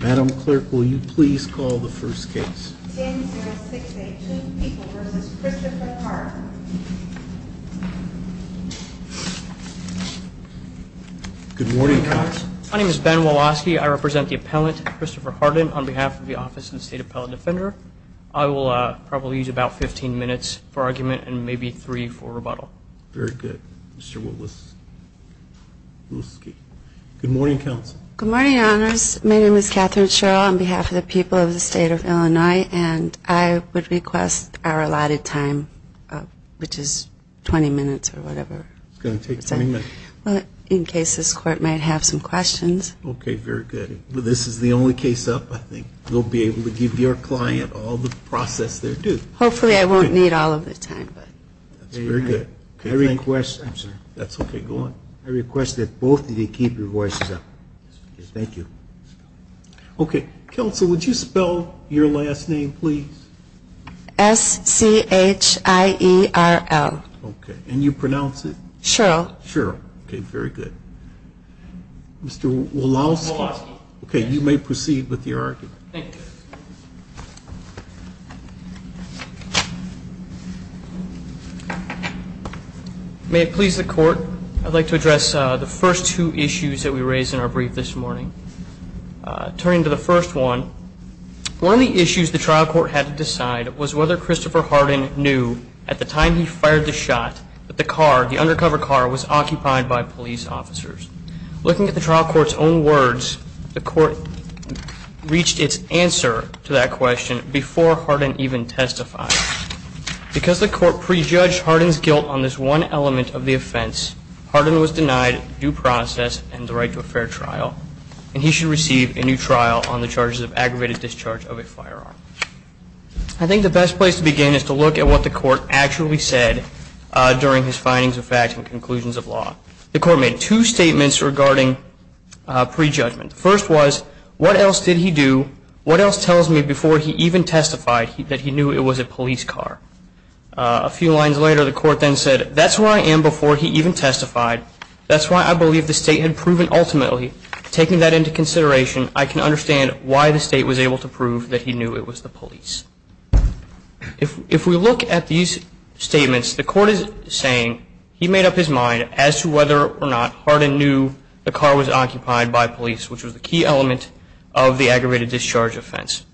Madam clerk, will you please call the first case? Good morning. My name is Ben Walaski. I represent the appellant Christopher Hardin on behalf of the office and state appellant defender I will probably use about 15 minutes for argument and maybe three for rebuttal. Very good. Mr. Willis Good morning counsel. Good morning, Your Honors. My name is Katherine Sherrill on behalf of the people of the state of Illinois And I would request our allotted time Which is 20 minutes or whatever. It's gonna take 20 minutes. In case this court might have some questions. Okay, very good Well, this is the only case up. I think you'll be able to give your client all the process there, too Hopefully I won't need all of the time, but that's very good. I request. I'm sorry. That's okay I request that both of you keep your voices up. Thank you Okay, counsel. Would you spell your last name, please? S-C-H-I-E-R-L. Okay, and you pronounce it? Sherrill. Sherrill. Okay, very good Mr. Walaski. Okay, you may proceed with the argument Thank you May it please the court. I'd like to address the first two issues that we raised in our brief this morning Turning to the first one One of the issues the trial court had to decide was whether Christopher Harden knew at the time He fired the shot, but the car the undercover car was occupied by police officers Looking at the trial court's own words the court Reached its answer to that question before Harden even testified Because the court prejudged Harden's guilt on this one element of the offense Harden was denied due process and the right to a fair trial And he should receive a new trial on the charges of aggravated discharge of a firearm I think the best place to begin is to look at what the court actually said During his findings of facts and conclusions of law the court made two statements regarding Prejudgment first was what else did he do? What else tells me before he even testified that he knew it was a police car a few lines later The court then said that's where I am before he even testified That's why I believe the state had proven ultimately taking that into consideration I can understand why the state was able to prove that he knew it was the police if we look at these Which was the key element of the aggravated discharge offense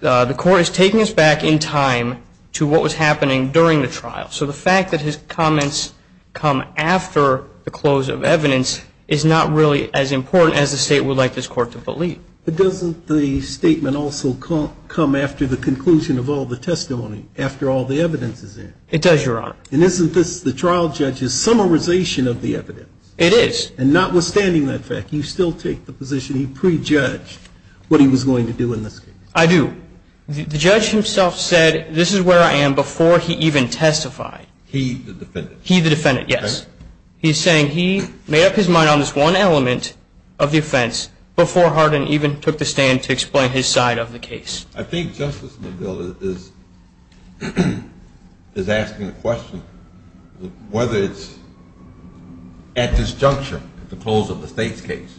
The court is taking us back in time to what was happening during the trial So the fact that his comments come after the close of evidence is not really as important as the state would like this court To believe it doesn't the statement also come come after the conclusion of all the testimony after all the evidence is there And isn't this the trial judge's Summarization of the evidence it is and notwithstanding that fact you still take the position he prejudged What he was going to do in this I do The judge himself said this is where I am before he even testified. He the defendant he the defendant Yes He's saying he made up his mind on this one element of the offense Before Hardin even took the stand to explain his side of the case. I think justice Is Is asking the question whether it's At this juncture at the close of the state's case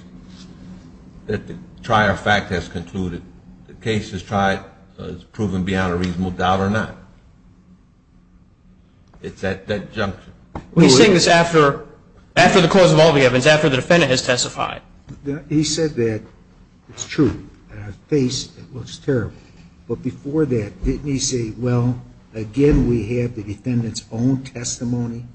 That the trier fact has concluded the case has tried has proven beyond a reasonable doubt or not It's at that juncture We sing this after after the cause of all the evidence after the defendant has testified He said that it's true Face it looks terrible. But before that didn't he say well again, we have the defendants own testimony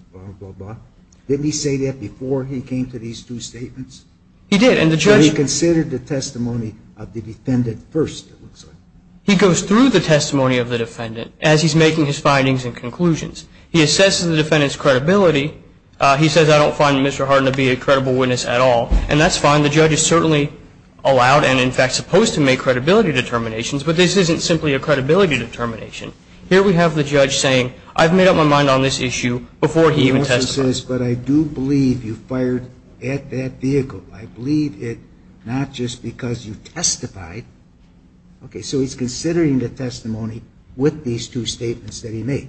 Did he say that before he came to these two statements? He did and the judge considered the testimony of the defendant first He goes through the testimony of the defendant as he's making his findings and conclusions. He assesses the defendants credibility He says I don't find mr Hardin to be a credible witness at all and that's fine The judge is certainly allowed and in fact supposed to make credibility determinations, but this isn't simply a credibility determination Here we have the judge saying I've made up my mind on this issue before he even says but I do believe you fired At that vehicle, I believe it not just because you testified Okay, so he's considering the testimony with these two statements that he made.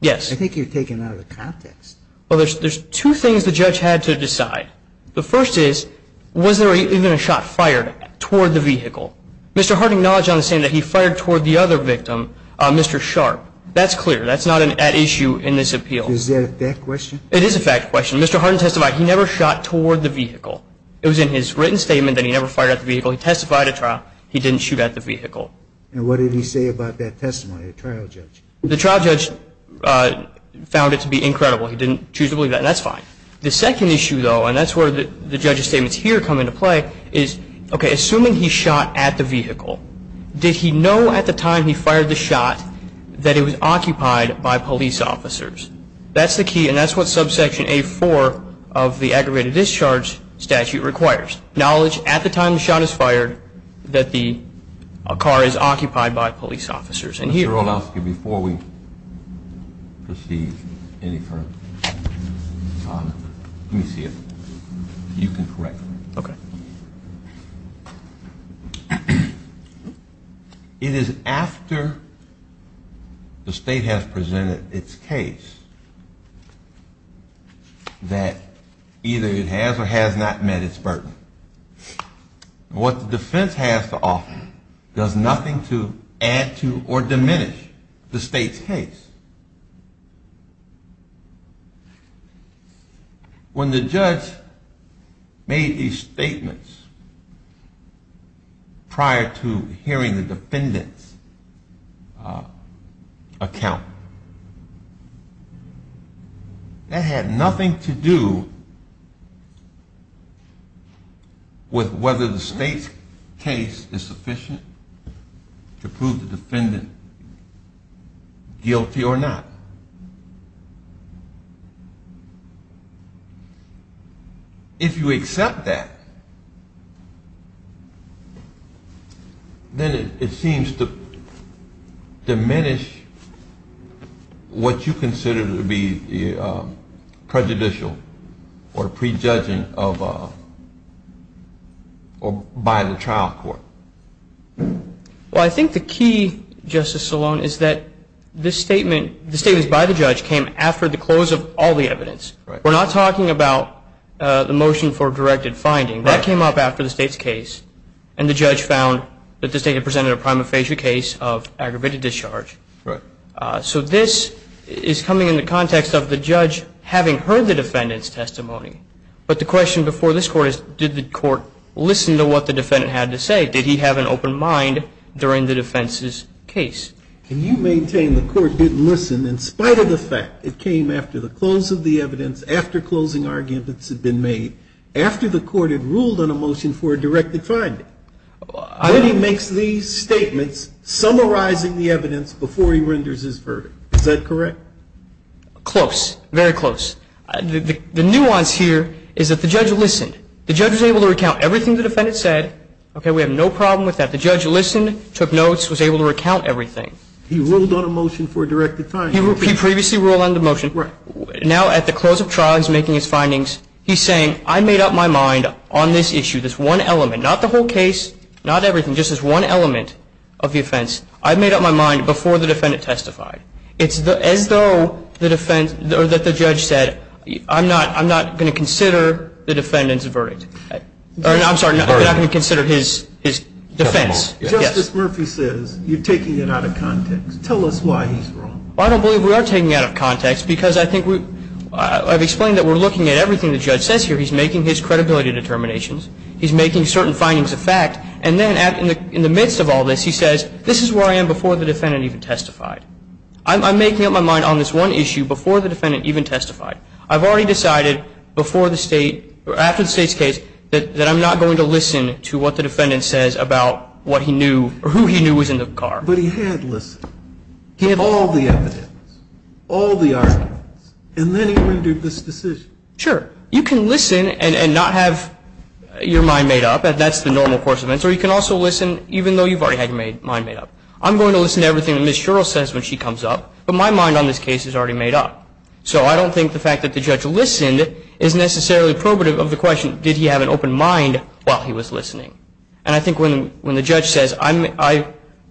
Yes. I think you're taking out of the context Well, there's two things the judge had to decide. The first is was there even a shot fired toward the vehicle. Mr Hardin knowledge on the same that he fired toward the other victim. Mr. Sharp. That's clear That's not an at issue in this appeal. Is there a question? It is a fact question. Mr. Hardin testified He never shot toward the vehicle. It was in his written statement that he never fired at the vehicle. He testified a trial He didn't shoot at the vehicle. And what did he say about that testimony a trial judge the trial judge? Found it to be incredible. He didn't choose to believe that that's fine The second issue though, and that's where the judge's statements here come into play is okay Assuming he shot at the vehicle. Did he know at the time he fired the shot that it was occupied by police officers? That's the key and that's what subsection a four of the aggravated discharge statute requires knowledge at the time the shot is fired that the car is occupied by police officers and here on out here before we receive any Let me see it you can correct okay It is after the state has presented its case That either it has or has not met its burden What the defense has to offer does nothing to add to or diminish the state's case When the judge made these statements prior to hearing the defendant's account That had nothing to do with whether the state's case is sufficient to prove the defendant guilty or not If you accept that, then it seems to diminish what you consider to be prejudicial or prejudging by the trial court Well, I think the key Justice Salone is that this statement the state is by the judge came after the close of all the evidence We're not talking about the motion for directed finding that came up after the state's case and The judge found that the state had presented a prima facie case of aggravated discharge Right. So this is coming in the context of the judge having heard the defendant's testimony But the question before this court is did the court listen to what the defendant had to say? Did he have an open mind during the defense's case? Can you maintain the court didn't listen in spite of the fact it came after the close of the evidence? After closing arguments had been made after the court had ruled on a motion for a directed finding He makes these statements Summarizing the evidence before he renders his verdict. Is that correct? Close very close The nuance here is that the judge listened the judge was able to recount everything the defendant said, okay We have no problem with that. The judge listened took notes was able to recount everything He ruled on a motion for a directed time. He previously ruled on the motion right now at the close of trials making his findings He's saying I made up my mind on this issue this one element not the whole case Not everything just as one element of the offense. I've made up my mind before the defendant testified It's the as though the defense or that the judge said I'm not I'm not going to consider the defendant's verdict All right. I'm sorry. I'm not going to consider his his defense Murphy says you're taking it out of context. Tell us why I don't believe we are taking out of context because I think we Have explained that we're looking at everything the judge says here. He's making his credibility determinations He's making certain findings of fact and then at in the in the midst of all this He says this is where I am before the defendant even testified I'm making up my mind on this one issue before the defendant even testified I've already decided before the state or after the state's case that that I'm not going to listen to what the defendant says about What he knew or who he knew was in the car, but he had list He had all the evidence all the arguments and then he did this decision. Sure. You can listen and not have Your mind made up and that's the normal course of events or you can also listen even though you've already had your mind made up I'm going to listen to everything that miss Cheryl says when she comes up, but my mind on this case is already made up So I don't think the fact that the judge listened it is necessarily probative of the question Did he have an open mind while he was listening? And I think when when the judge says I'm I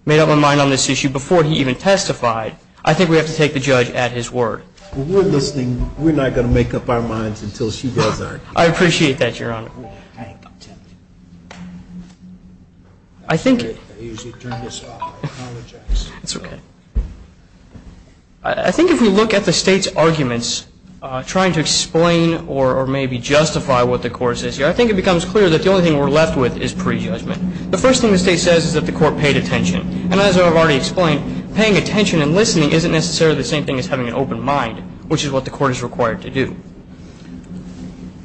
made up my mind on this issue before he even testified I think we have to take the judge at his word We're listening. We're not going to make up our minds until she does that. I appreciate that your honor. I Think It's okay, I Think if we look at the state's arguments Trying to explain or or maybe justify what the course is here I think it becomes clear that the only thing we're left with is pre-judgment The first thing the state says is that the court paid attention And as I've already explained paying attention and listening isn't necessarily the same thing as having an open mind Which is what the court is required to do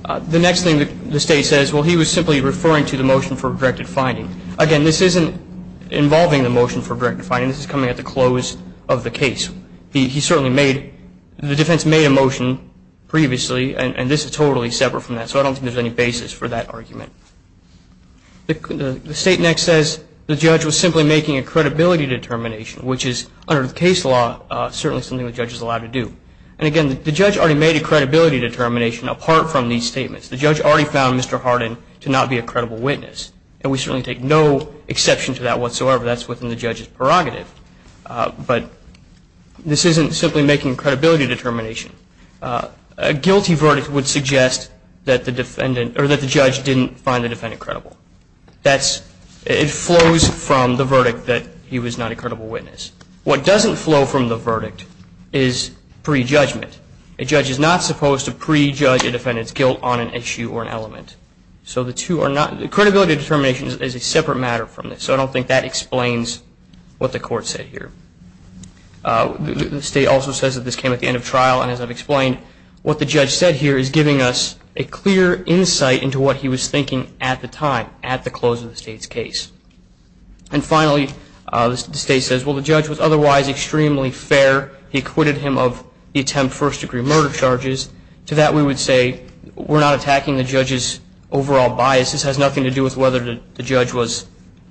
The next thing that the state says well, he was simply referring to the motion for directed finding again, this isn't Involving the motion for direct defining this is coming at the close of the case. He certainly made the defense made a motion Previously and this is totally separate from that. So I don't think there's any basis for that argument The state next says the judge was simply making a credibility determination Which is under the case law certainly something the judge is allowed to do and again the judge already made a credibility Determination apart from these statements the judge already found. Mr That's within the judge's prerogative but this isn't simply making credibility determination a Guilty verdict would suggest that the defendant or that the judge didn't find the defendant credible That's it flows from the verdict that he was not a credible witness. What doesn't flow from the verdict is Pre-judgment a judge is not supposed to prejudge a defendant's guilt on an issue or an element So the two are not the credibility determinations is a separate matter from this so I don't think that explains what the court said here The state also says that this came at the end of trial and as I've explained what the judge said here is giving us a clear insight into what he was thinking at the time at the close of the state's case and Finally the state says well the judge was otherwise extremely fair He acquitted him of the attempt first-degree murder charges to that. We would say we're not attacking the judge's Overall bias this has nothing to do with whether the judge was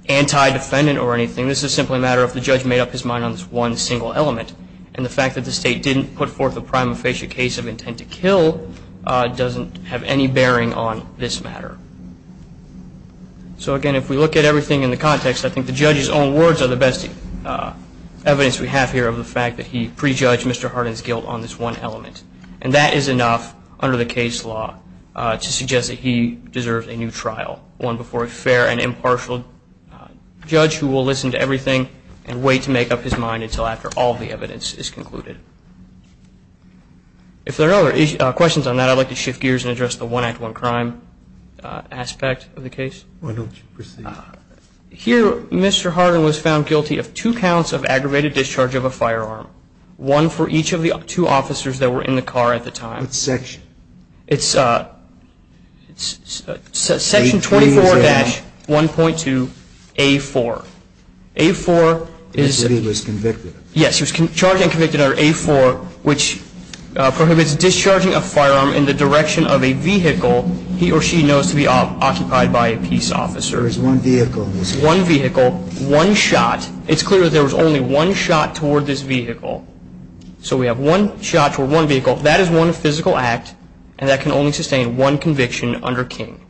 Anti-defendant or anything This is simply a matter of the judge made up his mind on this one single element and the fact that the state didn't put forth a prima facie case of intent to kill Doesn't have any bearing on this matter So again, if we look at everything in the context, I think the judge's own words are the best Evidence we have here of the fact that he prejudged. Mr Hardin's guilt on this one element and that is enough under the case law to suggest that he Deserves a new trial one before a fair and impartial Judge who will listen to everything and wait to make up his mind until after all the evidence is concluded If there are other questions on that I'd like to shift gears and address the one act one crime aspect of the case Here. Mr Hardin was found guilty of two counts of aggravated discharge of a firearm One for each of the two officers that were in the car at the time section. It's uh Section 24 dash 1.2 a 4 a 4 is He was convicted. Yes, he was charged and convicted under a 4 which prohibits discharging a firearm in the direction of a vehicle he or she knows to be Occupied by a peace officer is one vehicle one vehicle one shot. It's clear. There was only one shot toward this vehicle So we have one shot for one vehicle That is one physical act and that can only sustain one conviction under King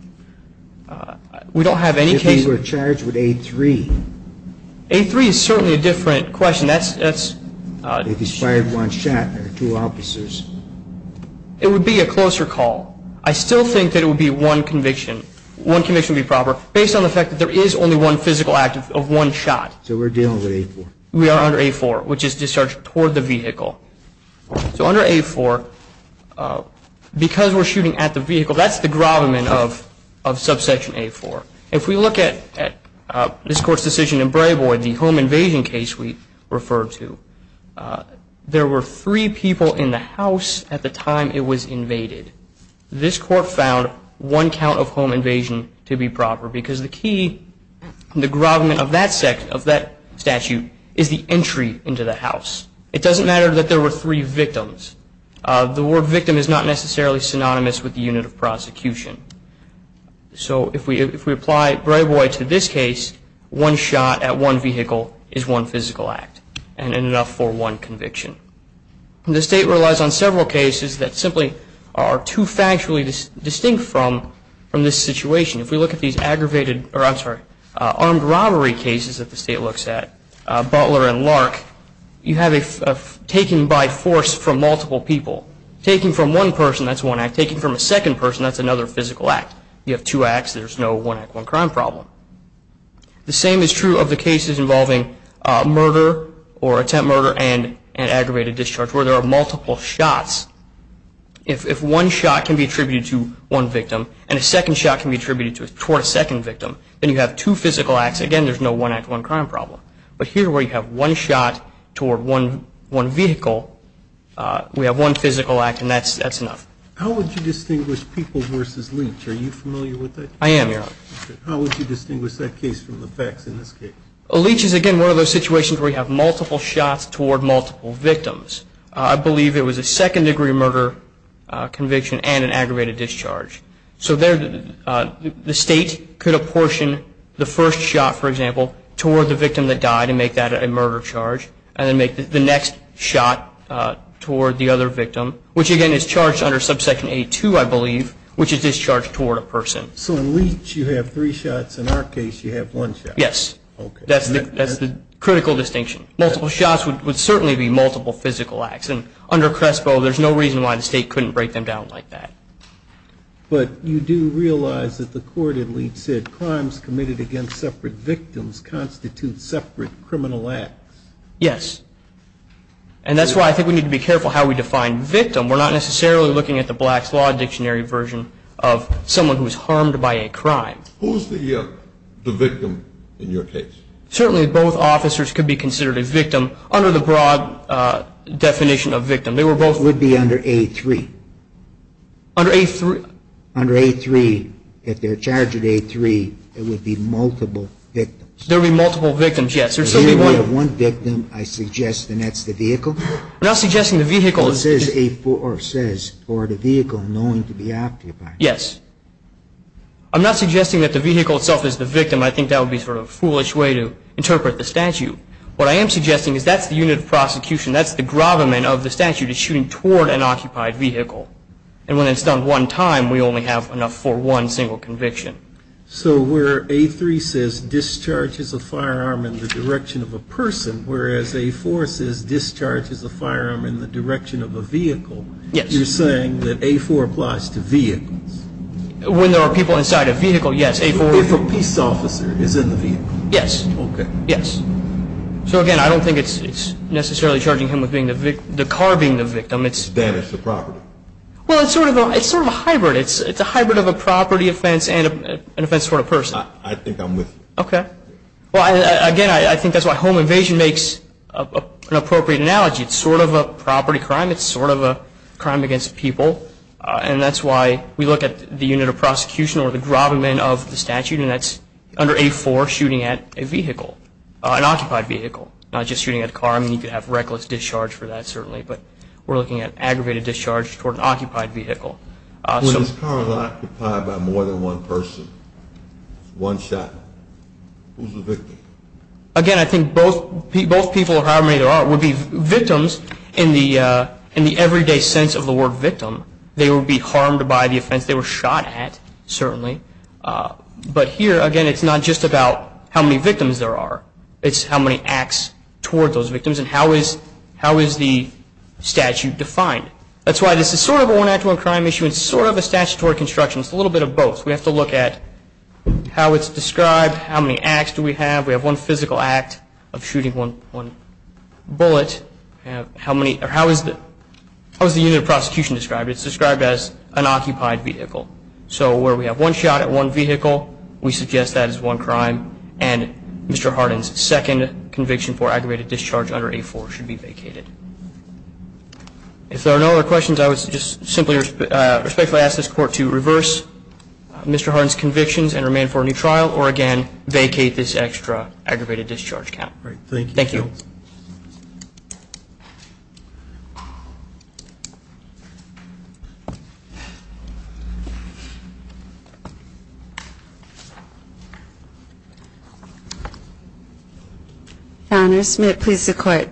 We don't have any case. We're charged with a 3 a 3 is certainly a different question. That's that's If he's fired one shot or two officers It would be a closer call I still think that it would be one conviction One conviction be proper based on the fact that there is only one physical act of one shot So we're dealing with a 4 we are under a 4 which is discharged toward the vehicle So under a 4 Because we're shooting at the vehicle, that's the grommet of of subsection a 4 if we look at This court's decision in Brayboyd the home invasion case we referred to There were three people in the house at the time. It was invaded This court found one count of home invasion to be proper because the key The grommet of that sect of that statute is the entry into the house It doesn't matter that there were three victims The word victim is not necessarily synonymous with the unit of prosecution So if we if we apply Brayboyd to this case One shot at one vehicle is one physical act and enough for one conviction The state relies on several cases that simply are too factually this distinct from from this situation If we look at these aggravated or I'm sorry armed robbery cases that the state looks at Butler and Lark You have a Taken by force from multiple people taking from one person. That's one act taking from a second person That's another physical act. You have two acts. There's no one act one crime problem The same is true of the cases involving murder or attempt murder and and aggravated discharge where there are multiple shots If one shot can be attributed to one victim and a second shot can be attributed to it toward a second victim Then you have two physical acts again. There's no one act one crime problem, but here where you have one shot Toward one one vehicle We have one physical act and that's that's enough. How would you distinguish people versus leech? Are you familiar with it? I am How would you distinguish that case from the facts in this case a leech is again? One of those situations where you have multiple shots toward multiple victims. I believe it was a second-degree murder conviction and an aggravated discharge so there The state could apportion the first shot for example toward the victim that died and make that a murder charge And then make the next shot Toward the other victim which again is charged under subsection a2 I believe which is discharged toward a person So in leech you have three shots in our case. You have one shot. Yes That's the that's the critical distinction multiple shots would certainly be multiple physical acts and under Crespo There's no reason why the state couldn't break them down like that But you do realize that the court at least said crimes committed against separate victims constitute separate criminal acts yes, and That's why I think we need to be careful how we define victim We're not necessarily looking at the Blacks Law Dictionary version of someone who was harmed by a crime Who's the the victim in your case certainly both officers could be considered a victim under the broad? Definition of victim they were both would be under a3 Under a3 under a3 if they're charged at a3 it would be multiple victims there be multiple victims One victim I suggest and that's the vehicle I'm not suggesting the vehicle is is a poor says or the vehicle knowing to be occupied. Yes I'm not suggesting that the vehicle itself is the victim I think that would be sort of a foolish way to interpret the statute what I am suggesting is that's the unit of prosecution That's the gravamen of the statute is shooting toward an occupied vehicle and when it's done one time We only have enough for one single conviction So we're a3 says Discharges a firearm in the direction of a person whereas a forces Discharges a firearm in the direction of a vehicle. Yes, you're saying that a4 applies to vehicles When there are people inside a vehicle yes a for a peace officer is in the vehicle. Yes, okay? Yes So again, I don't think it's it's necessarily charging him with being the victim the car being the victim. It's damaged the property Sort of it's sort of a hybrid. It's it's a hybrid of a property offense and an offense for a person I think I'm with okay. Well again. I think that's why home invasion makes Appropriate analogy. It's sort of a property crime It's sort of a crime against people And that's why we look at the unit of prosecution or the gravamen of the statute and that's under a for shooting at a vehicle An occupied vehicle not just shooting at a car Reckless discharge for that certainly, but we're looking at aggravated discharge toward an occupied vehicle By more than one person one shot Again I think both people people how many there are would be victims in the in the everyday sense of the word victim They will be harmed by the offense. They were shot at certainly But here again. It's not just about how many victims there are it's how many acts toward those victims and how is how is the Statute defined that's why this is sort of a one act one crime issue. It's sort of a statutory construction It's a little bit of both we have to look at How it's described how many acts do we have we have one physical act of shooting one one? Bullet, you know how many or how is that I was the unit of prosecution described It's described as an occupied vehicle so where we have one shot at one vehicle. We suggest that is one crime and Mr. Harden's second conviction for aggravated discharge under a four should be vacated If there are no other questions, I was just simply respectfully ask this court to reverse Mr. Harnes convictions and remain for a new trial or again vacate this extra aggravated discharge count. Thank you Founders may it please the court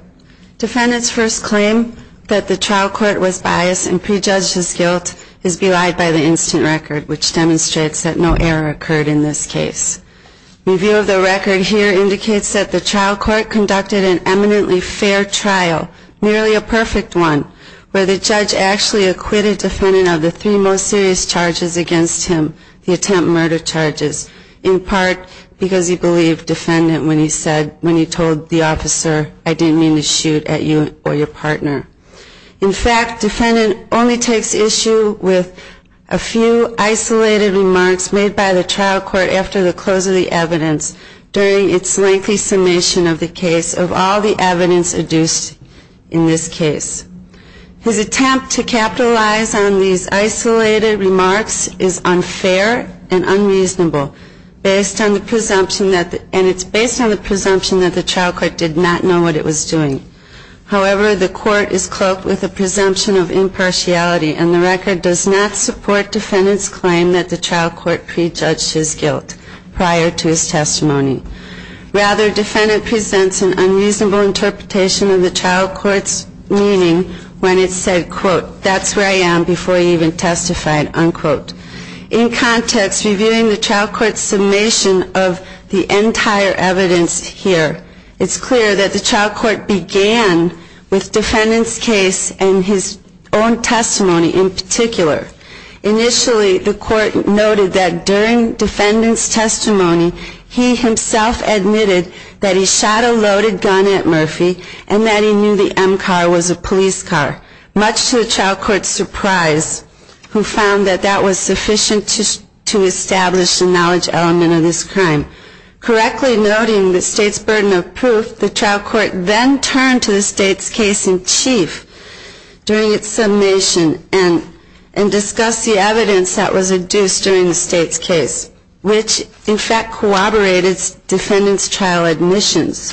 Defendants first claim that the trial court was biased and prejudged his guilt is belied by the instant record which Demonstrates that no error occurred in this case Review of the record here indicates that the trial court conducted an eminently fair trial Nearly a perfect one where the judge actually acquitted defendant of the three most serious charges against him the attempt murder Charges in part because he believed defendant when he said when he told the officer I didn't mean to shoot at you or your partner in fact defendant only takes issue with a Few isolated remarks made by the trial court after the close of the evidence During its lengthy summation of the case of all the evidence adduced in this case His attempt to capitalize on these isolated remarks is unfair and Unreasonable based on the presumption that and it's based on the presumption that the trial court did not know what it was doing However, the court is cloaked with a presumption of impartiality and the record does not support Defendants claim that the trial court prejudged his guilt prior to his testimony Rather defendant presents an unreasonable interpretation of the trial court's meaning when it said quote That's where I am before he even testified unquote in Context reviewing the trial court's summation of the entire evidence here It's clear that the trial court began with defendants case and his own testimony in particular Initially the court noted that during defendants testimony He himself admitted that he shot a loaded gun at Murphy and that he knew the m-car was a police car Much to the trial court's surprise Who found that that was sufficient to to establish the knowledge element of this crime? Correctly noting the state's burden of proof the trial court then turned to the state's case in chief During its summation and and discussed the evidence that was adduced during the state's case Which in fact corroborated defendants trial admissions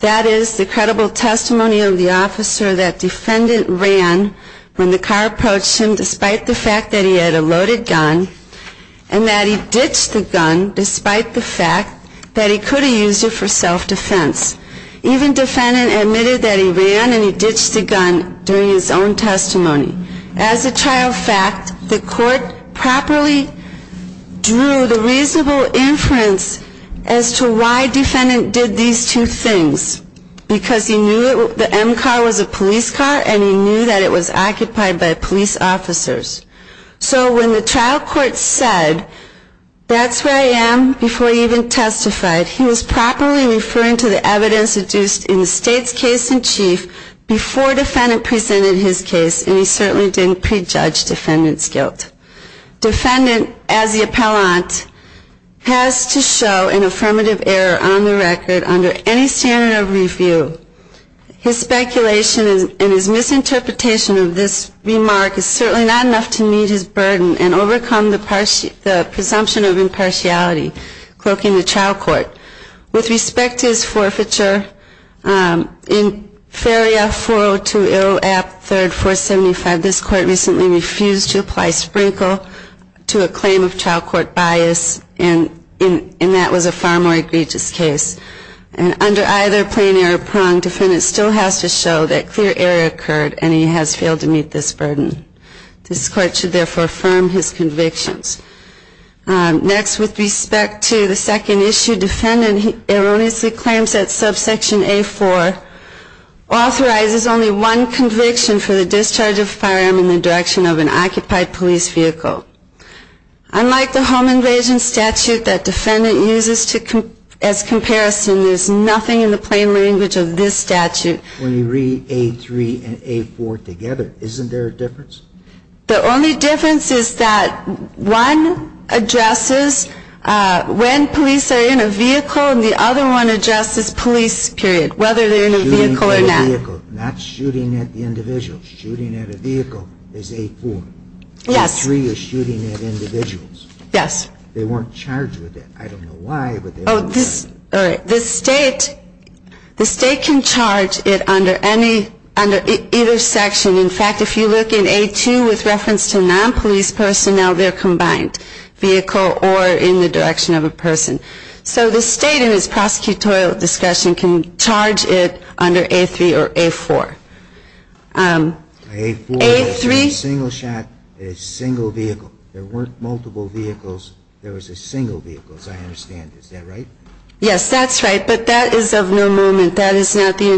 That is the credible testimony of the officer that defendant ran when the car approached him despite the fact that he had a loaded gun and That he ditched the gun despite the fact that he could have used it for self-defense Even defendant admitted that he ran and he ditched the gun during his own testimony as a trial fact the court properly Drew the reasonable inference as to why defendant did these two things Because he knew the m-car was a police car and he knew that it was occupied by police officers so when the trial court said That's where I am before he even testified He was properly referring to the evidence adduced in the state's case in chief Before defendant presented his case and he certainly didn't prejudge defendants guilt Defendant as the appellant Has to show an affirmative error on the record under any standard of review His speculation and his misinterpretation of this remark is certainly not enough to meet his burden and overcome the presumption of impartiality Cloaking the trial court with respect to his forfeiture in Feria 402 ill app 3rd 475 this court recently refused to apply sprinkle to a claim of trial court bias and in and that was a far more egregious case and Under either plain error prong defendant still has to show that clear error occurred and he has failed to meet this burden This court should therefore affirm his convictions Next with respect to the second issue defendant. He erroneously claims that subsection a for Authorizes only one conviction for the discharge of firearm in the direction of an occupied police vehicle Unlike the home invasion statute that defendant uses to come as comparison There's nothing in the plain language of this statute when you read a three and a four together Isn't there a difference the only difference is that one? addresses When police are in a vehicle and the other one adjusts this police period whether they're in a vehicle or not That's shooting at the individual shooting at a vehicle is a fool. Yes, three is shooting at individuals Yes, they weren't charged with it. I don't know why but this all right this state The state can charge it under any under either section In fact, if you look in a two with reference to non-police personnel, they're combined Vehicle or in the direction of a person so the state in his prosecutorial discussion can charge it under a three or a four Three single shot a single vehicle there weren't multiple vehicles. There was a single vehicle as I understand. Is that right? Yes, that's right. But that is of no movement. That is not the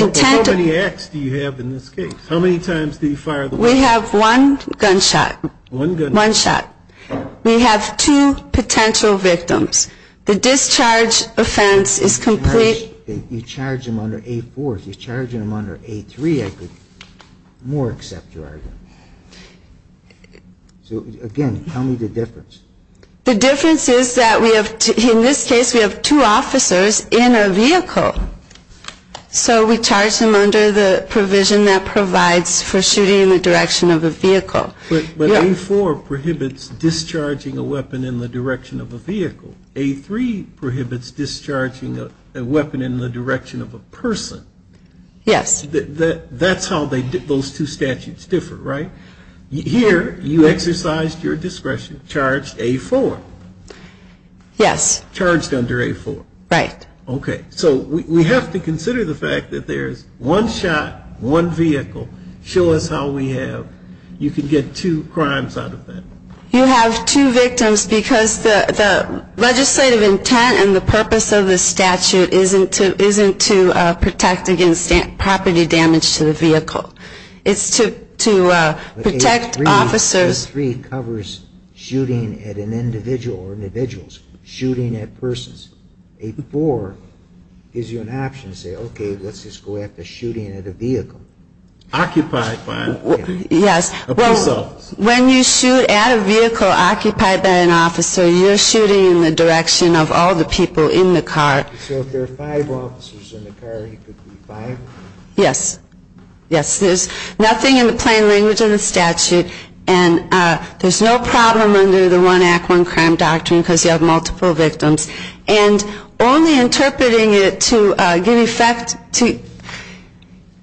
Intent of any acts. Do you have in this case? How many times do you fire? We have one gunshot one gun one shot We have two potential victims. The discharge offense is complete You charge them under a fourth you charging them under a three. I could more accept your argument So again, tell me the difference the difference is that we have in this case we have two officers in a vehicle So we charge them under the provision that provides for shooting in the direction of a vehicle For prohibits discharging a weapon in the direction of a vehicle a three prohibits discharging a weapon in the direction of a person Yes, that that's how they did those two statutes different, right? Here you exercised your discretion charged a four Yes charged under a four right? Okay So we have to consider the fact that there's one shot one vehicle show us how we have You can get two crimes out of that. You have two victims because the Legislative intent and the purpose of the statute isn't to isn't to protect against property damage to the vehicle It's to to protect officers three covers Shooting at an individual or individuals shooting at persons a four Gives you an option say okay. Let's just go after shooting at a vehicle Occupied Yes When you shoot at a vehicle occupied by an officer you're shooting in the direction of all the people in the car Yes yes, there's nothing in the plain language of the statute and there's no problem under the one act one crime doctrine because you have multiple victims and only interpreting it to give effect to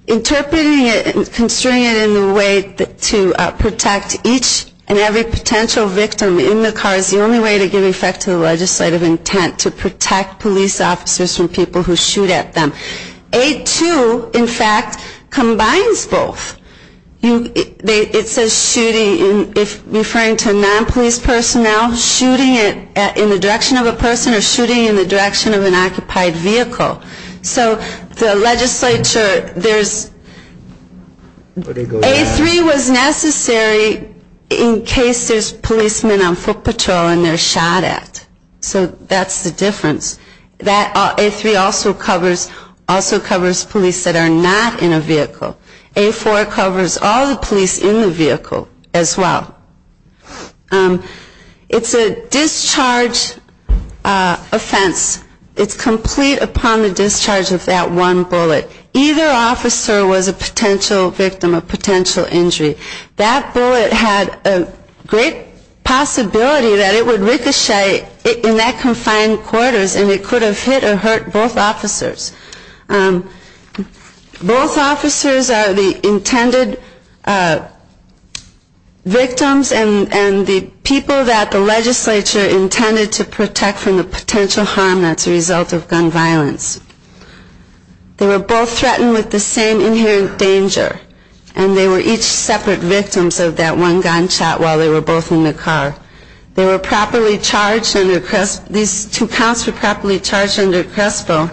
Interpreting it and constrain it in the way that to protect each and every potential victim in the car is the only way to give effect to the Legislative intent to protect police officers from people who shoot at them a to in fact combines both You it says shooting if referring to a non-police personnel Shooting it in the direction of a person or shooting in the direction of an occupied vehicle So the legislature there's A3 was necessary In case there's policemen on foot patrol and they're shot at so that's the difference that A3 also covers also covers police that are not in a vehicle a four covers all the police in the vehicle as well It's a discharge Offense it's complete upon the discharge of that one bullet Either officer was a potential victim of potential injury that bullet had a great Possibility that it would ricochet in that confined quarters and it could have hit or hurt both officers Both officers are the intended Victims and and the people that the legislature intended to protect from the potential harm That's a result of gun violence They were both threatened with the same inherent danger and they were each separate victims of that one gunshot While they were both in the car. They were properly charged under Crespo. These two counts were properly charged under Crespo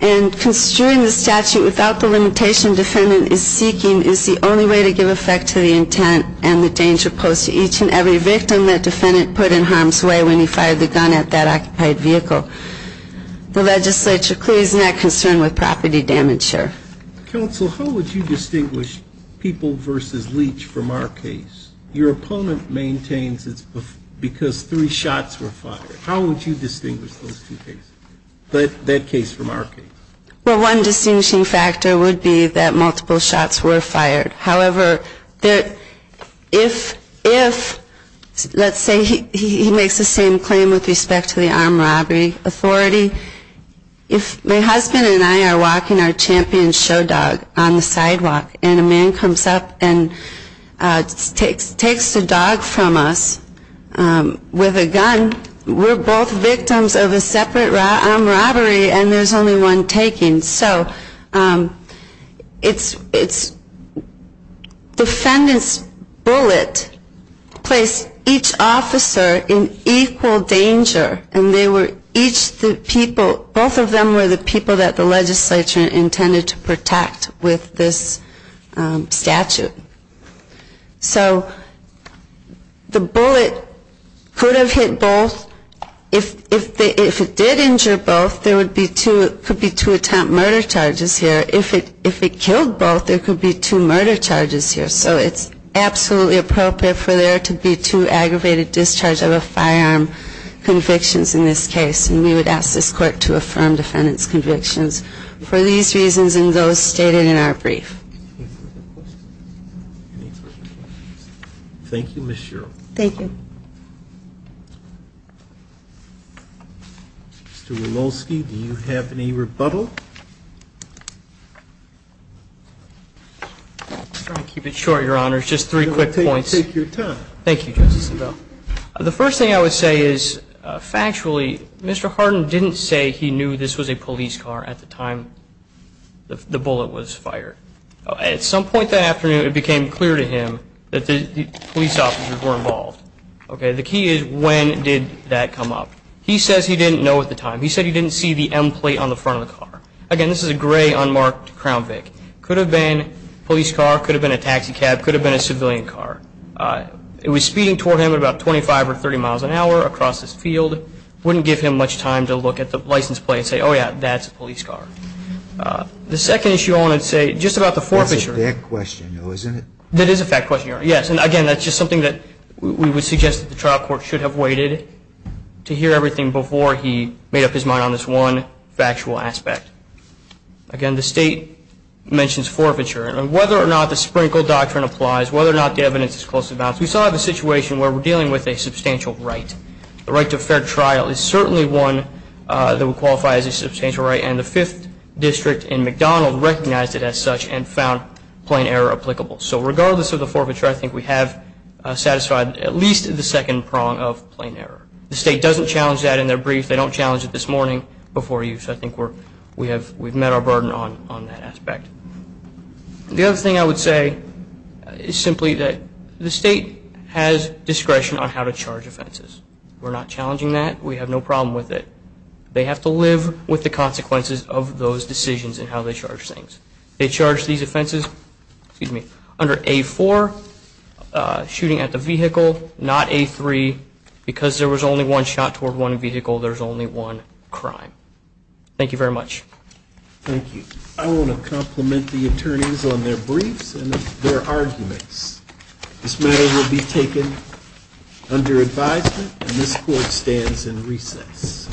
and Construing the statute without the limitation defendant is seeking is the only way to give effect to the intent and the danger posed to each and Every victim that defendant put in harm's way when he fired the gun at that occupied vehicle The legislature clearly is not concerned with property damage Counsel, how would you distinguish people versus leech from our case your opponent maintains? It's because three shots were fired. How would you distinguish those two cases, but that case from our case? Well, one distinguishing factor would be that multiple shots were fired. However that if if Let's say he makes the same claim with respect to the armed robbery Authority if my husband and I are walking our champion show dog on the sidewalk and a man comes up and Takes takes the dog from us With a gun we're both victims of a separate robbery and there's only one taking so It's it's Defendants bullet Place each officer in equal danger and they were each the people both of them were the people that the legislature intended to protect with this statute so The bullet Could have hit both if if it did injure both there would be two could be to attempt murder charges here If it if it killed both there could be two murder charges here So it's absolutely appropriate for there to be two aggravated discharge of a firearm Convictions in this case and we would ask this court to affirm defendants convictions for these reasons and those stated in our brief Thank you, mr. Thank you Mr. Woloski, do you have any rebuttal? Keep it short your honor. It's just three quick points. Take your time. Thank you The first thing I would say is Factually, mr. Harden didn't say he knew this was a police car at the time The bullet was fired At some point that afternoon it became clear to him that the police officers were involved Okay, the key is when did that come up? He says he didn't know at the time He said he didn't see the M plate on the front of the car again This is a gray unmarked Crown Vic could have been police car could have been a taxi cab could have been a civilian car It was speeding toward him at about 25 or 30 miles an hour across this field Wouldn't give him much time to look at the license plate and say oh, yeah, that's a police car The second issue I want to say just about the forfeiture question. No, isn't it? That is a fact question. Yes And again, that's just something that we would suggest that the trial court should have waited To hear everything before he made up his mind on this one factual aspect again, the state Mentions forfeiture and whether or not the sprinkle doctrine applies whether or not the evidence is close about we saw the situation where we're dealing With a substantial right the right to a fair trial is certainly one That would qualify as a substantial right and the fifth district in McDonald recognized it as such and found plain error applicable So regardless of the forfeiture, I think we have Satisfied at least the second prong of plain error. The state doesn't challenge that in their brief They don't challenge it this morning before you so I think we're we have we've met our burden on on that aspect the other thing I would say Is simply that the state has discretion on how to charge offenses. We're not challenging that we have no problem with it They have to live with the consequences of those decisions and how they charge things. They charge these offenses Excuse me under a for Shooting at the vehicle not a three because there was only one shot toward one vehicle. There's only one crime Thank you very much Thank you. I want to compliment the attorneys on their briefs and their arguments This matter will be taken Under advisement and this court stands in recess